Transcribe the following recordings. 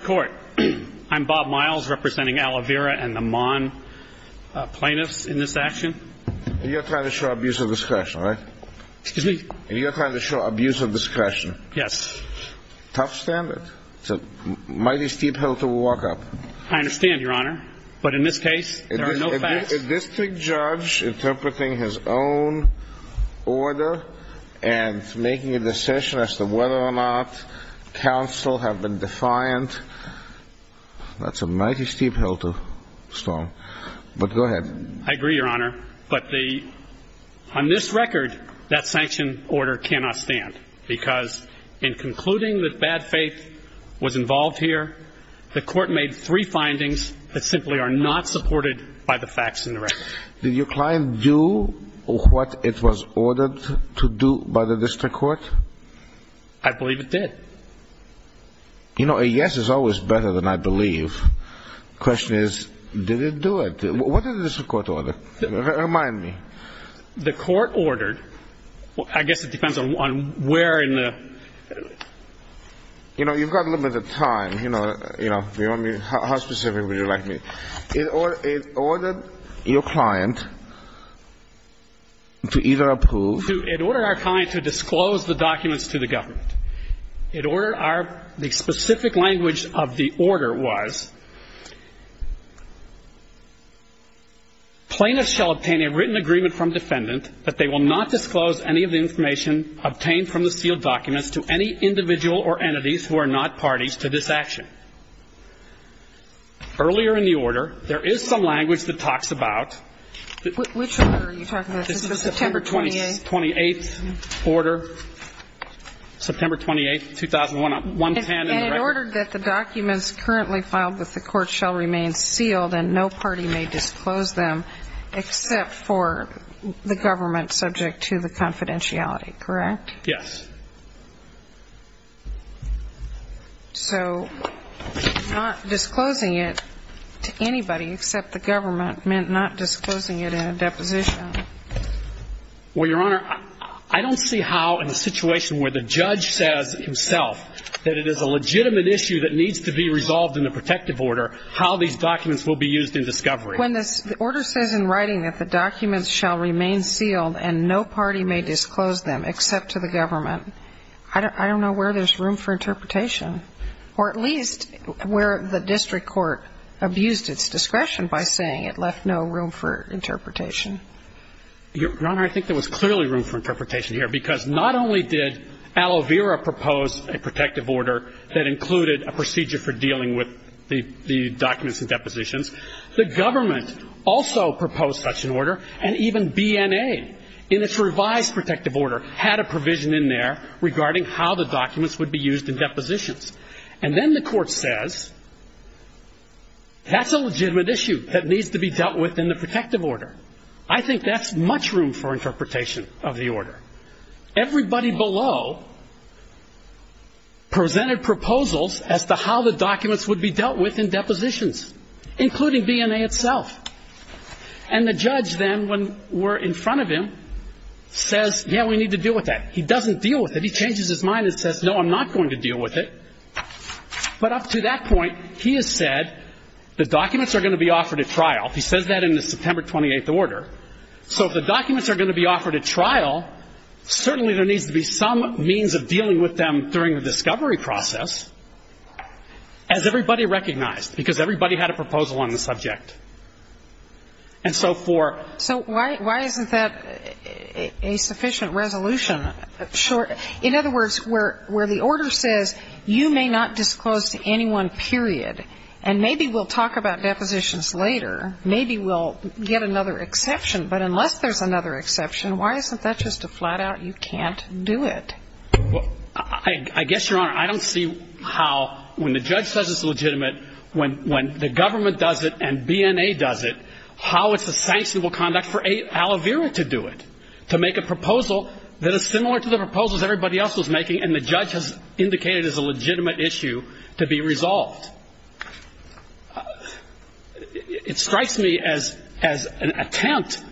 Court. I'm Bob Miles representing Aloe Vera and the Mon plaintiffs in this action. You're trying to show abuse of discretion, right? Excuse me? You're trying to show abuse of discretion. Yes. Tough standard. It's a mighty steep hill to walk up. I understand, Your Honor. But in this case, there are no facts. Is this judge interpreting his own order and making a decision as to whether or not counsel have been defiant? That's a mighty steep hill to stomp. But go ahead. I agree, Your Honor. But on this record, that sanction order cannot stand because in concluding that bad faith was involved here, the court made three findings that simply are not supported by the facts in the record. Did your client do what it was ordered to do by the district court? I believe it did. You know, a yes is always better than I believe. Question is, did it do it? What did the district court order? Remind me. The court ordered, I guess it depends on where in the... You know, you've got limited time, you know, how specific would you like me... It ordered your client to either approve... It ordered our client to disclose the documents to the government. It ordered our... The specific language of the order was, plaintiffs shall obtain a written agreement from defendant that they will not disclose any of the information obtained from the sealed documents to any individual or entities who are not parties to this action. Earlier in the order, there is some language that talks about... Which order are you talking about? September 28th? September 28th order. September 28th, 2010 in the record. It ordered that the documents currently filed with the court shall remain sealed and no party may disclose them except for the government subject to the confidentiality, correct? Yes. So, not disclosing it to anybody except the government meant not disclosing it in a deposition? Well, Your Honor, I don't see how in a situation where the judge says himself that it is a legitimate issue that needs to be resolved in the protective order, how these documents will be used in discovery. When the order says in writing that the documents shall remain sealed and no party may disclose them except to the government, I don't know where there is room for interpretation, or at least where the district court abused its discretion by saying it left no room for interpretation. Your Honor, I think there was clearly room for interpretation here because not only did Aloe Vera propose a protective order that included a procedure for dealing with the documents and depositions, the government also proposed such an order, and even BNA in its revised protective order had a provision in there regarding how the documents would be used in depositions. And then the court says that's a legitimate issue that needs to be dealt with in the protective order. I think that's much room for interpretation of the order. Everybody below presented proposals as to how the documents would be dealt with in depositions, including BNA itself. And the judge then, when we're in front of him, says, yeah, we need to deal with that. He doesn't deal with it. He changes his mind and says, no, I'm not going to deal with it. But up to that point, he has said the documents are going to be offered at trial. He says that in the September 28th order. So if the documents are going to be offered at trial, certainly there needs to be some means of dealing with them during the discovery process, as everybody recognized, because everybody had a proposal on the subject. And so for ‑‑ So why isn't that a sufficient resolution? In other words, where the order says you may not disclose to anyone, period, and maybe we'll talk about depositions later, maybe we'll get another exception, but unless there's another exception, why isn't that just a flat out you can't do it? I guess, Your Honor, I don't see how, when the judge says it's legitimate, when the government does it and BNA does it, how it's a sanctionable conduct for Al Avera to do it, to make a proposal that is similar to the proposals everybody else was making and the judge has indicated is a legitimate issue to be resolved. It strikes me as an attempt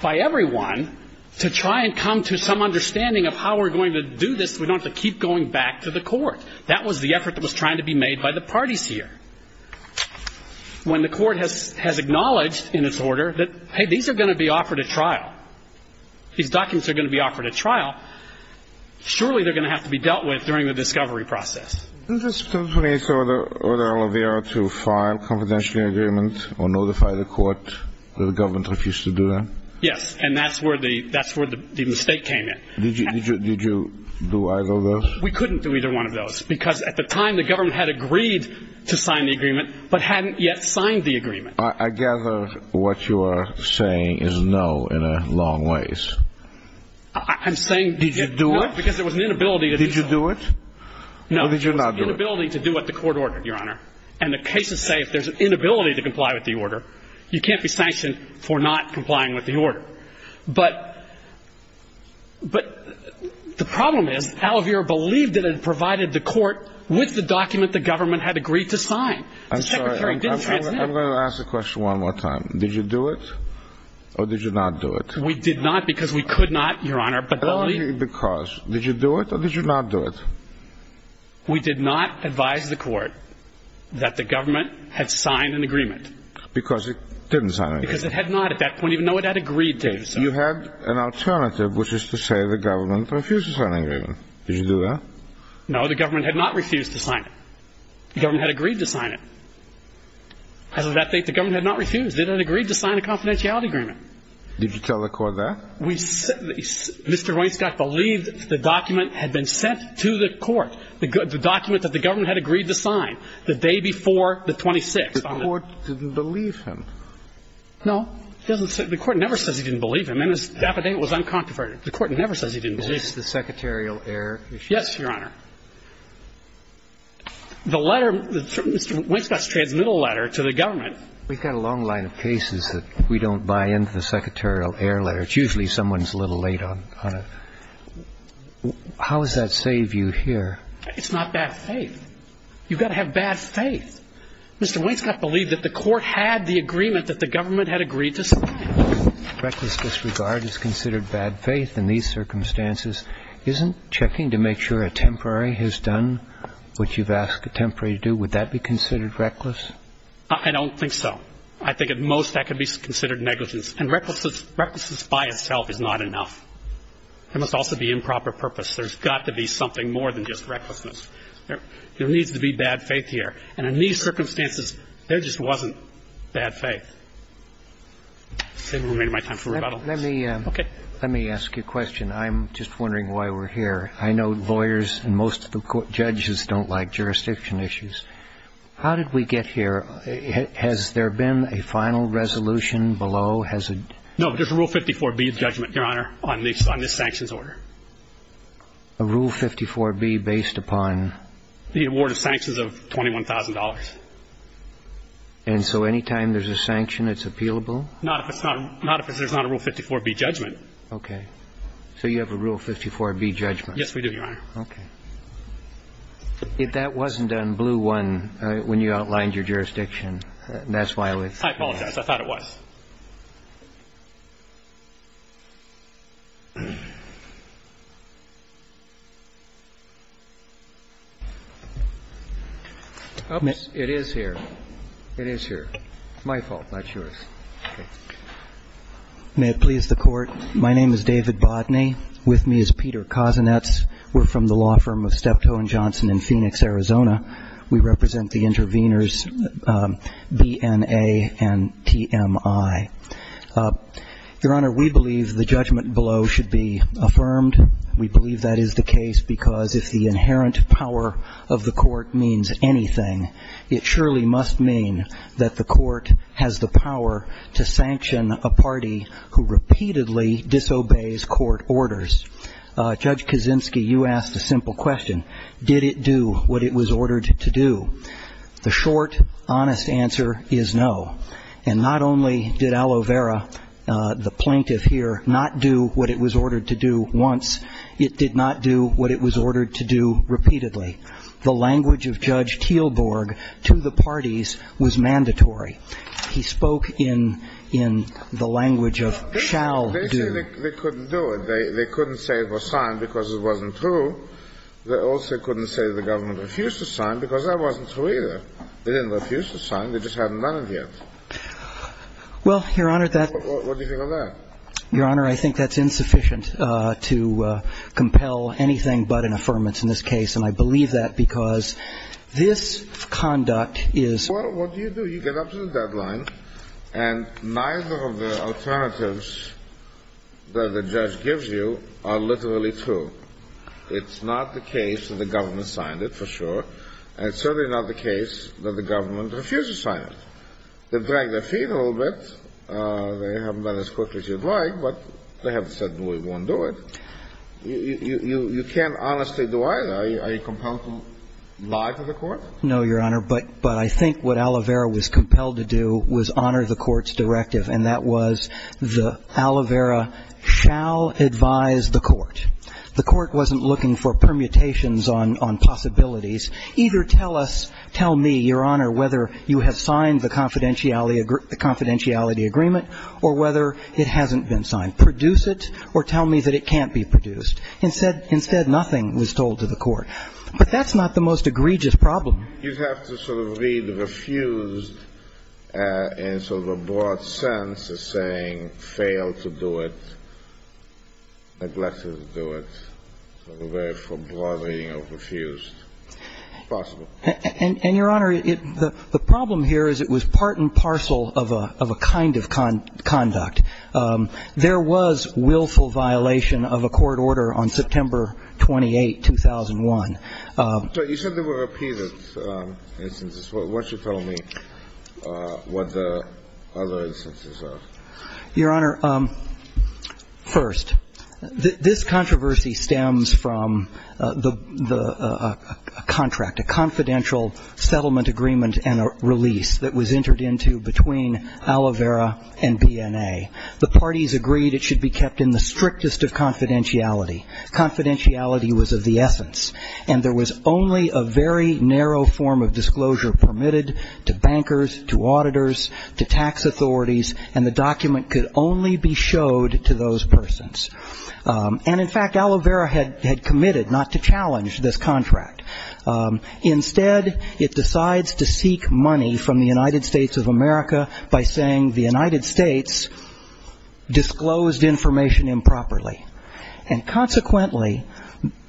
by everyone to try and come to some understanding of how we're going to do this so we don't have to keep going back to the court. That was the effort that was trying to be made by the parties here. When the court has acknowledged in its order that, hey, these are going to be offered at trial, these documents are going to be offered at trial, surely they're going to have to be dealt with during the discovery process. Isn't there some way to order Al Avera to file a confidentiality agreement or notify the court that the government refused to do that? Yes, and that's where the mistake came in. Did you do either of those? We couldn't do either one of those because, at the time, the government had agreed to sign the agreement but hadn't yet signed the agreement. I gather what you are saying is no in a long ways. I'm saying no because there was an inability to do so. Did you do it or did you not do it? No, it was an inability to do what the court ordered, Your Honor, and the cases say if there's an inability to comply with the order, you can't be sanctioned for not complying with the order. But the problem is Al Avera believed that it provided the court with the document the government had agreed to sign. I'm sorry, I'm going to ask the question one more time. Did you do it or did you not do it? We did not because we could not, Your Honor. But only because. Did you do it or did you not do it? We did not advise the court that the government had signed an agreement. Because it didn't sign an agreement. Because it had not at that point even though it had agreed to do so. You had an alternative, which is to say the government refused to sign an agreement. Did you do that? No, the government had not refused to sign it. The government had agreed to sign it. As of that date, the government had not refused. It had agreed to sign a confidentiality agreement. Did you tell the court that? Mr. Roinscott believed the document had been sent to the court, the document that the government had agreed to sign the day before the 26th. The court didn't believe him. No, the court never says he didn't believe him. And his affidavit was uncontroverted. The court never says he didn't believe him. Is this the secretarial error? Yes, Your Honor. The letter, Mr. Roinscott's transmittal letter to the government. We've got a long line of cases that we don't buy into the secretarial error letter. It's usually someone's a little late on it. How does that save you here? It's not bad faith. You've got to have bad faith. Mr. Roinscott believed that the court had the agreement that the government had agreed to. Reckless disregard is considered bad faith in these circumstances. Isn't checking to make sure a temporary has done what you've asked a temporary to do, would that be considered reckless? I don't think so. I think at most that could be considered negligence. And recklessness by itself is not enough. There must also be improper purpose. There's got to be something more than just recklessness. There needs to be bad faith here. And in these circumstances, there just wasn't bad faith. I've made my time for rebuttal. Let me ask you a question. I'm just wondering why we're here. I know lawyers and most of the judges don't like jurisdiction issues. How did we get here? Has there been a final resolution below? Has it? No, there's a Rule 54B judgment, Your Honor, on this sanctions order. A Rule 54B based upon? The award of sanctions of $21,000. And so anytime there's a sanction, it's appealable? Not if there's not a Rule 54B judgment. OK. So you have a Rule 54B judgment? Yes, we do, Your Honor. OK. If that wasn't on blue one when you outlined your jurisdiction, that's why we're here. I apologize. I thought it was. Oops, it is here. It is here. It's my fault, not yours. May it please the Court. My name is David Bodney. With me is Peter Kozinets. We're from the law firm of Steptoe and Johnson in Phoenix, Arizona. We represent the interveners BNA and TMI. Your Honor, we believe the judgment below should be affirmed. We believe that is the case because if the inherent power of the judge or of the court means anything, it surely must mean that the court has the power to sanction a party who repeatedly disobeys court orders. Judge Kozinski, you asked a simple question. Did it do what it was ordered to do? The short, honest answer is no. And not only did Aloe Vera, the plaintiff here, not do what it was ordered to do once, it did not do what it was ordered to do repeatedly. The language of Judge Teelborg to the parties was mandatory. He spoke in the language of shall do. They say they couldn't do it. They couldn't say it was signed because it wasn't true. They also couldn't say the government refused to sign because that wasn't true either. They didn't refuse to sign. They just hadn't done it yet. Well, Your Honor, that... What do you think of that? Your Honor, I think that's insufficient to compel anything but an affirmance in this case. And I believe that because this conduct is... Well, what do you do? You get up to the deadline and neither of the alternatives that the judge gives you are literally true. It's not the case that the government signed it, for sure. And it's certainly not the case that the government refused to sign it. They've dragged their feet a little bit. They haven't done it as quickly as you'd like, but they haven't said we won't do it. You can't honestly do either. Are you compelled to lie to the court? No, Your Honor, but I think what Alivera was compelled to do was honor the court's directive, and that was the Alivera shall advise the court. The court wasn't looking for permutations on possibilities. Either tell us, tell me, Your Honor, whether you have signed the confidentiality agreement or whether it hasn't been signed. Produce it or tell me that it can't be produced. Instead, nothing was told to the court. But that's not the most egregious problem. You'd have to sort of read refused in sort of a broad sense as saying fail to do it, neglected to do it. Sort of a very broad reading of refused. Possible. And, Your Honor, the problem here is it was part and parcel of a kind of conduct. There was willful violation of a court order on September 28, 2001. So you said there were repeated instances. What's your telling me what the other instances are? Your Honor, first, this controversy stems from a contract, a confidential settlement agreement and a release that was entered into between Alivera and BNA. The parties agreed it should be kept in the strictest of confidentiality. Confidentiality was of the essence. And there was only a very narrow form of disclosure permitted to bankers, to auditors, to tax authorities, and the document could only be showed to those persons. And, in fact, Alivera had committed not to challenge this contract. Instead, it decides to seek money from the United States of America by saying the United States disclosed information improperly. And, consequently,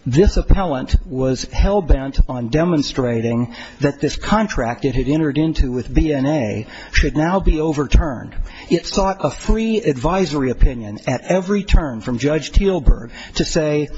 this appellant was hell-bent on demonstrating that this contract it had entered into with BNA should now be overturned. It sought a free advisory opinion at every turn from Judge Teelburg to say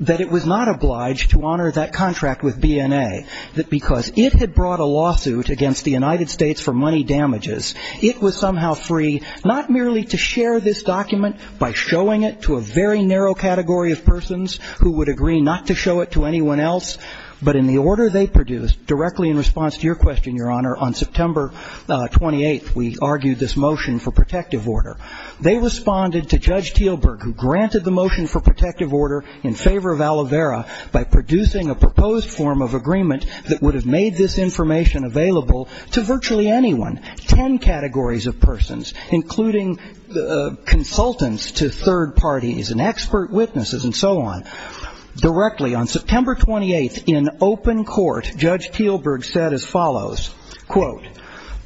that it was not obliged to honor that contract with BNA, that because it had brought a lawsuit against the United States for money damages, it was somehow free not merely to share this document by showing it to a very narrow category of persons who would agree not to show it to anyone else, but in the order they produced directly in response to your question, Your Honor, on September 28th, we argued this motion for protective order. They responded to Judge Teelburg who granted the motion for protective order in favor of Alivera by producing a proposed form of agreement that would have made this information available to virtually anyone, 10 categories of persons, including consultants to third parties and expert witnesses and so on. Directly on September 28th, in open court, Judge Teelburg said as follows, quote,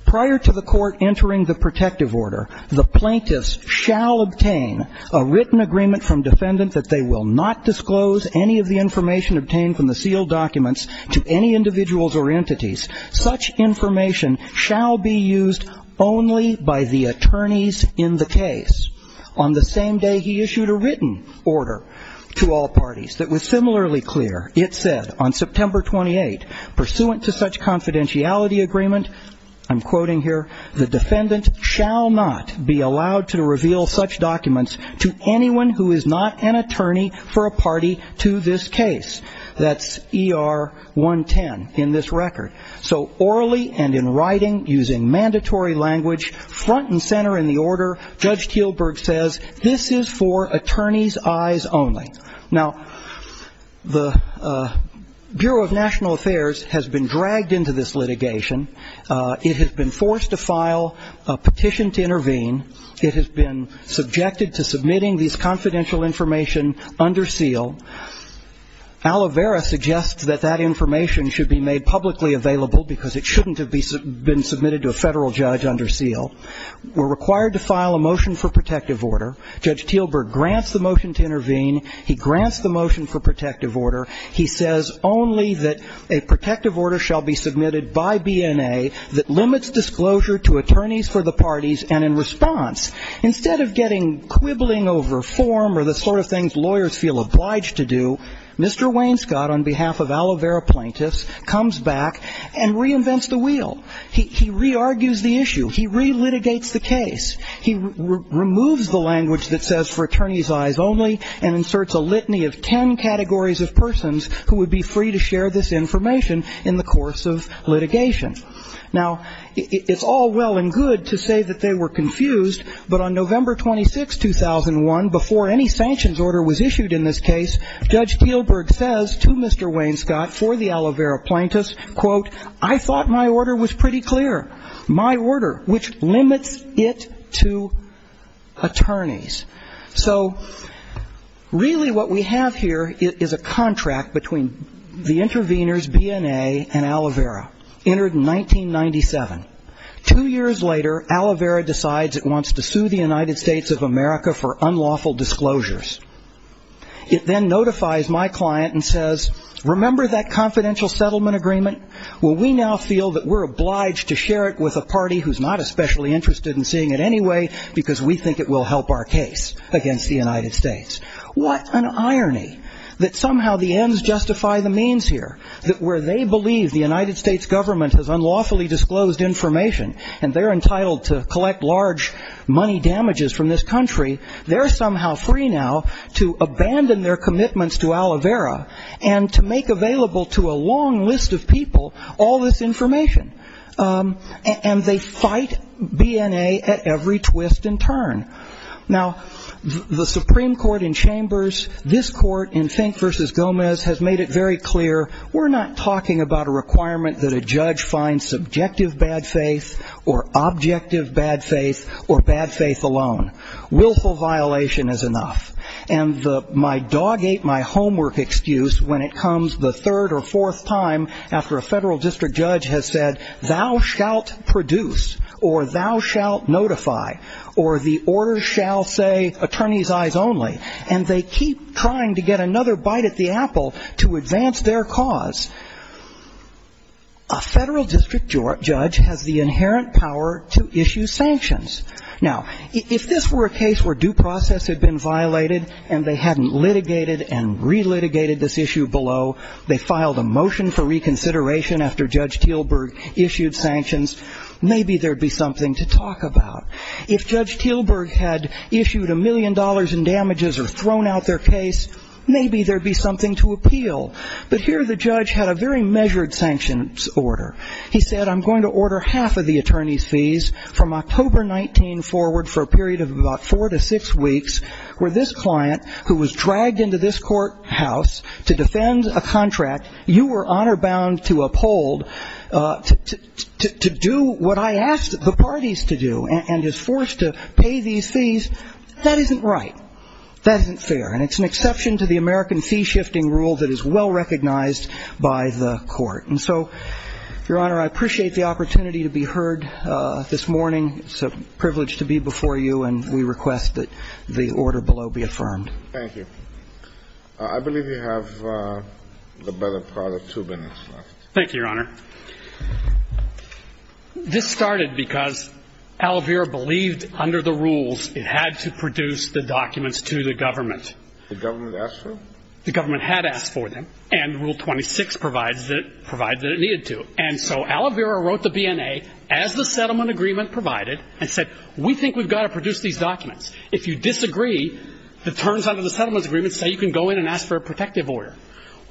prior to the court entering the protective order, the plaintiffs shall obtain a written agreement from defendant that they will not disclose any of the information obtained from the sealed documents to any individuals or entities. Such information shall be used only by the attorneys in the case. On the same day, he issued a written order to all parties that was similarly clear. It said on September 28th, pursuant to such confidentiality agreement, I'm quoting here, the defendant shall not be allowed to reveal such documents to anyone who is not an attorney for a party to this case. That's ER 110 in this record. So orally and in writing, using mandatory language, front and center in the order, Judge Teelburg says this is for attorney's eyes only. Now, the Bureau of National Affairs has been dragged into this litigation. It has been forced to file a petition to intervene. It has been subjected to submitting these confidential information under seal. Aloe Vera suggests that that information should be made publicly available because it shouldn't have been submitted to a federal judge under seal. We're required to file a motion for protective order. Judge Teelburg grants the motion to intervene. He grants the motion for protective order. He says only that a protective order shall be submitted by BNA that limits disclosure to attorneys for the parties and in response. Instead of getting quibbling over form or the sort of things lawyers feel obliged to do, Mr. Wainscott, on behalf of Aloe Vera plaintiffs, comes back and reinvents the wheel. He re-argues the issue. He re-litigates the case. He removes the language that says for attorney's eyes only and inserts a litany of 10 categories of persons who would be free to share this information in the course of litigation. Now, it's all well and good to say that they were confused. But on November 26, 2001, before any sanctions order was issued in this case, Judge Teelburg says to Mr. Wainscott for the Aloe Vera plaintiffs, I thought my order was pretty clear. My order, which limits it to attorneys. So really what we have here is a contract between the intervenors, BNA and Aloe Vera, entered in 1997. Two years later, Aloe Vera decides it wants to sue the United States of America for unlawful disclosures. It then notifies my client and says, remember that confidential settlement agreement? Well, we now feel that we're obliged to share it with a party who's not especially interested in seeing it anyway because we think it will help our case against the United States. What an irony that somehow the ends justify the means here. That where they believe the United States government has unlawfully disclosed information and they're entitled to collect large money damages from this country, they're somehow free now to abandon their commitments to Aloe Vera and to make available to a long list of people all this information. And they fight BNA at every twist and turn. Now, the Supreme Court in Chambers, this court in Fink v. Gomez has made it very clear, we're not talking about a requirement that a judge find subjective bad faith or objective bad faith or bad faith alone. Willful violation is enough. And my dog ate my homework excuse when it comes the third or fourth time after a federal district judge has said, thou shalt produce or thou shalt notify or the order shall say attorney's eyes only. And they keep trying to get another bite at the apple to advance their cause. A federal district judge has the inherent power to issue sanctions. Now, if this were a case where due process had been violated and they hadn't litigated and re-litigated this issue below, they filed a motion for reconsideration after Judge Teelburg issued sanctions, maybe there'd be something to talk about. If Judge Teelburg had issued a million dollars in damages or thrown out their case, maybe there'd be something to appeal. But here the judge had a very measured sanctions order. He said, I'm going to order half of the attorney's fees from October 19 forward for a period of about four to six weeks where this client who was dragged into this courthouse to defend a contract you were honor bound to uphold to do what I asked the parties to do and is forced to pay these fees, that isn't right. That isn't fair. And it's an exception to the American fee shifting rule that is well recognized by the court. And so, Your Honor, I appreciate the opportunity to be heard this morning. It's a privilege to be before you and we request that the order below be affirmed. Thank you. I believe you have the better part of two minutes left. Thank you, Your Honor. This started because Alavira believed under the rules it had to produce the documents to the government. The government asked for them? The government had asked for them and rule 26 provides that it needed to. And so Alavira wrote the BNA as the settlement agreement provided and said, we think we've got to produce these documents. If you disagree, the terms under the settlement agreement say you can go in and ask for a protective order.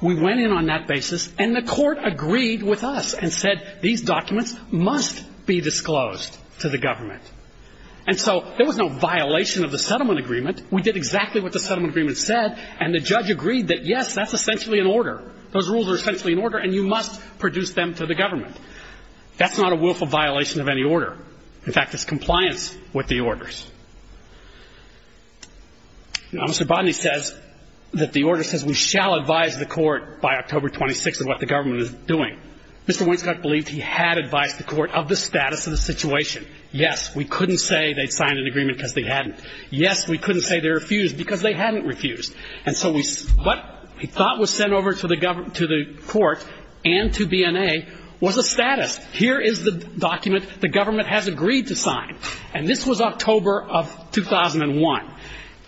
We went in on that basis and the court agreed with us and said these documents must be disclosed to the government. And so there was no violation of the settlement agreement. We did exactly what the settlement agreement said and the judge agreed that, yes, that's essentially an order. Those rules are essentially an order and you must produce them to the government. That's not a willful violation of any order. In fact, it's compliance with the orders. Mr. Bodney says that the order says we shall advise the court by October 26 of what the government is doing. Mr. Winscott believed he had advised the court of the status of the situation. Yes, we couldn't say they'd signed an agreement because they hadn't. Yes, we couldn't say they refused because they hadn't refused. And so what he thought was sent over to the court and to BNA was a status. Here is the document the government has agreed to sign. And this was October of 2001.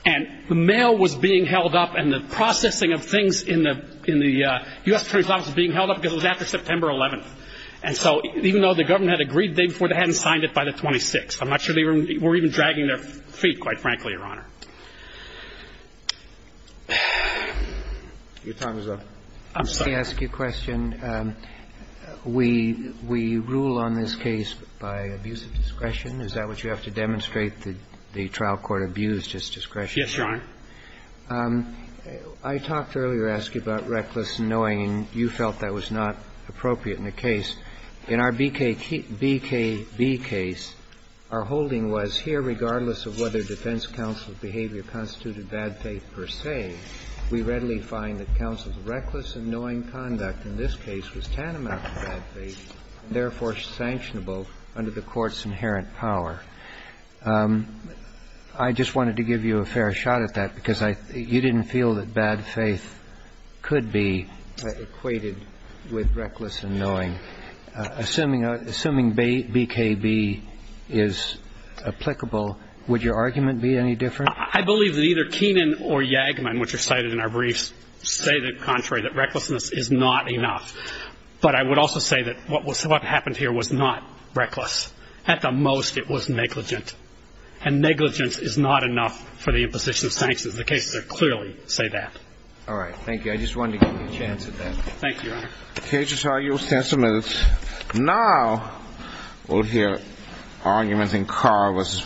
And the mail was being held up and the processing of things in the U.S. Attorney's Office was being held up because it was after September 11th. And so even though the government had agreed the day before, they hadn't signed it by the 26th. I'm not sure they were even dragging their feet, quite frankly, Your Honor. Your time is up. I'm sorry. Let me ask you a question. We rule on this case by abuse of discretion. Is that what you have to demonstrate, that the trial court abused its discretion? Yes, Your Honor. I talked earlier, asked you about reckless annoying, and you felt that was not appropriate in the case. In our BKB case, our holding was here, regardless of whether defense counsel's behavior constituted bad faith per se, we readily find that counsel's reckless annoying conduct in this case was tantamount to bad faith and therefore sanctionable under the court's inherent power. I just wanted to give you a fair shot at that because you didn't feel that bad faith could be equated with reckless annoying. Assuming BKB is applicable, would your argument be any different? I believe that either Keenan or Yagman, which are cited in our briefs, say the contrary, that recklessness is not enough. But I would also say that what happened here was not reckless. At the most, it was negligent. And negligence is not enough for the imposition of sanctions. The cases that clearly say that. All right. Thank you. I just wanted to give you a chance at that. Thank you, Your Honor. The case is argued. We'll stand some minutes. Now, we'll hear arguments in Carr v. Providence-Life.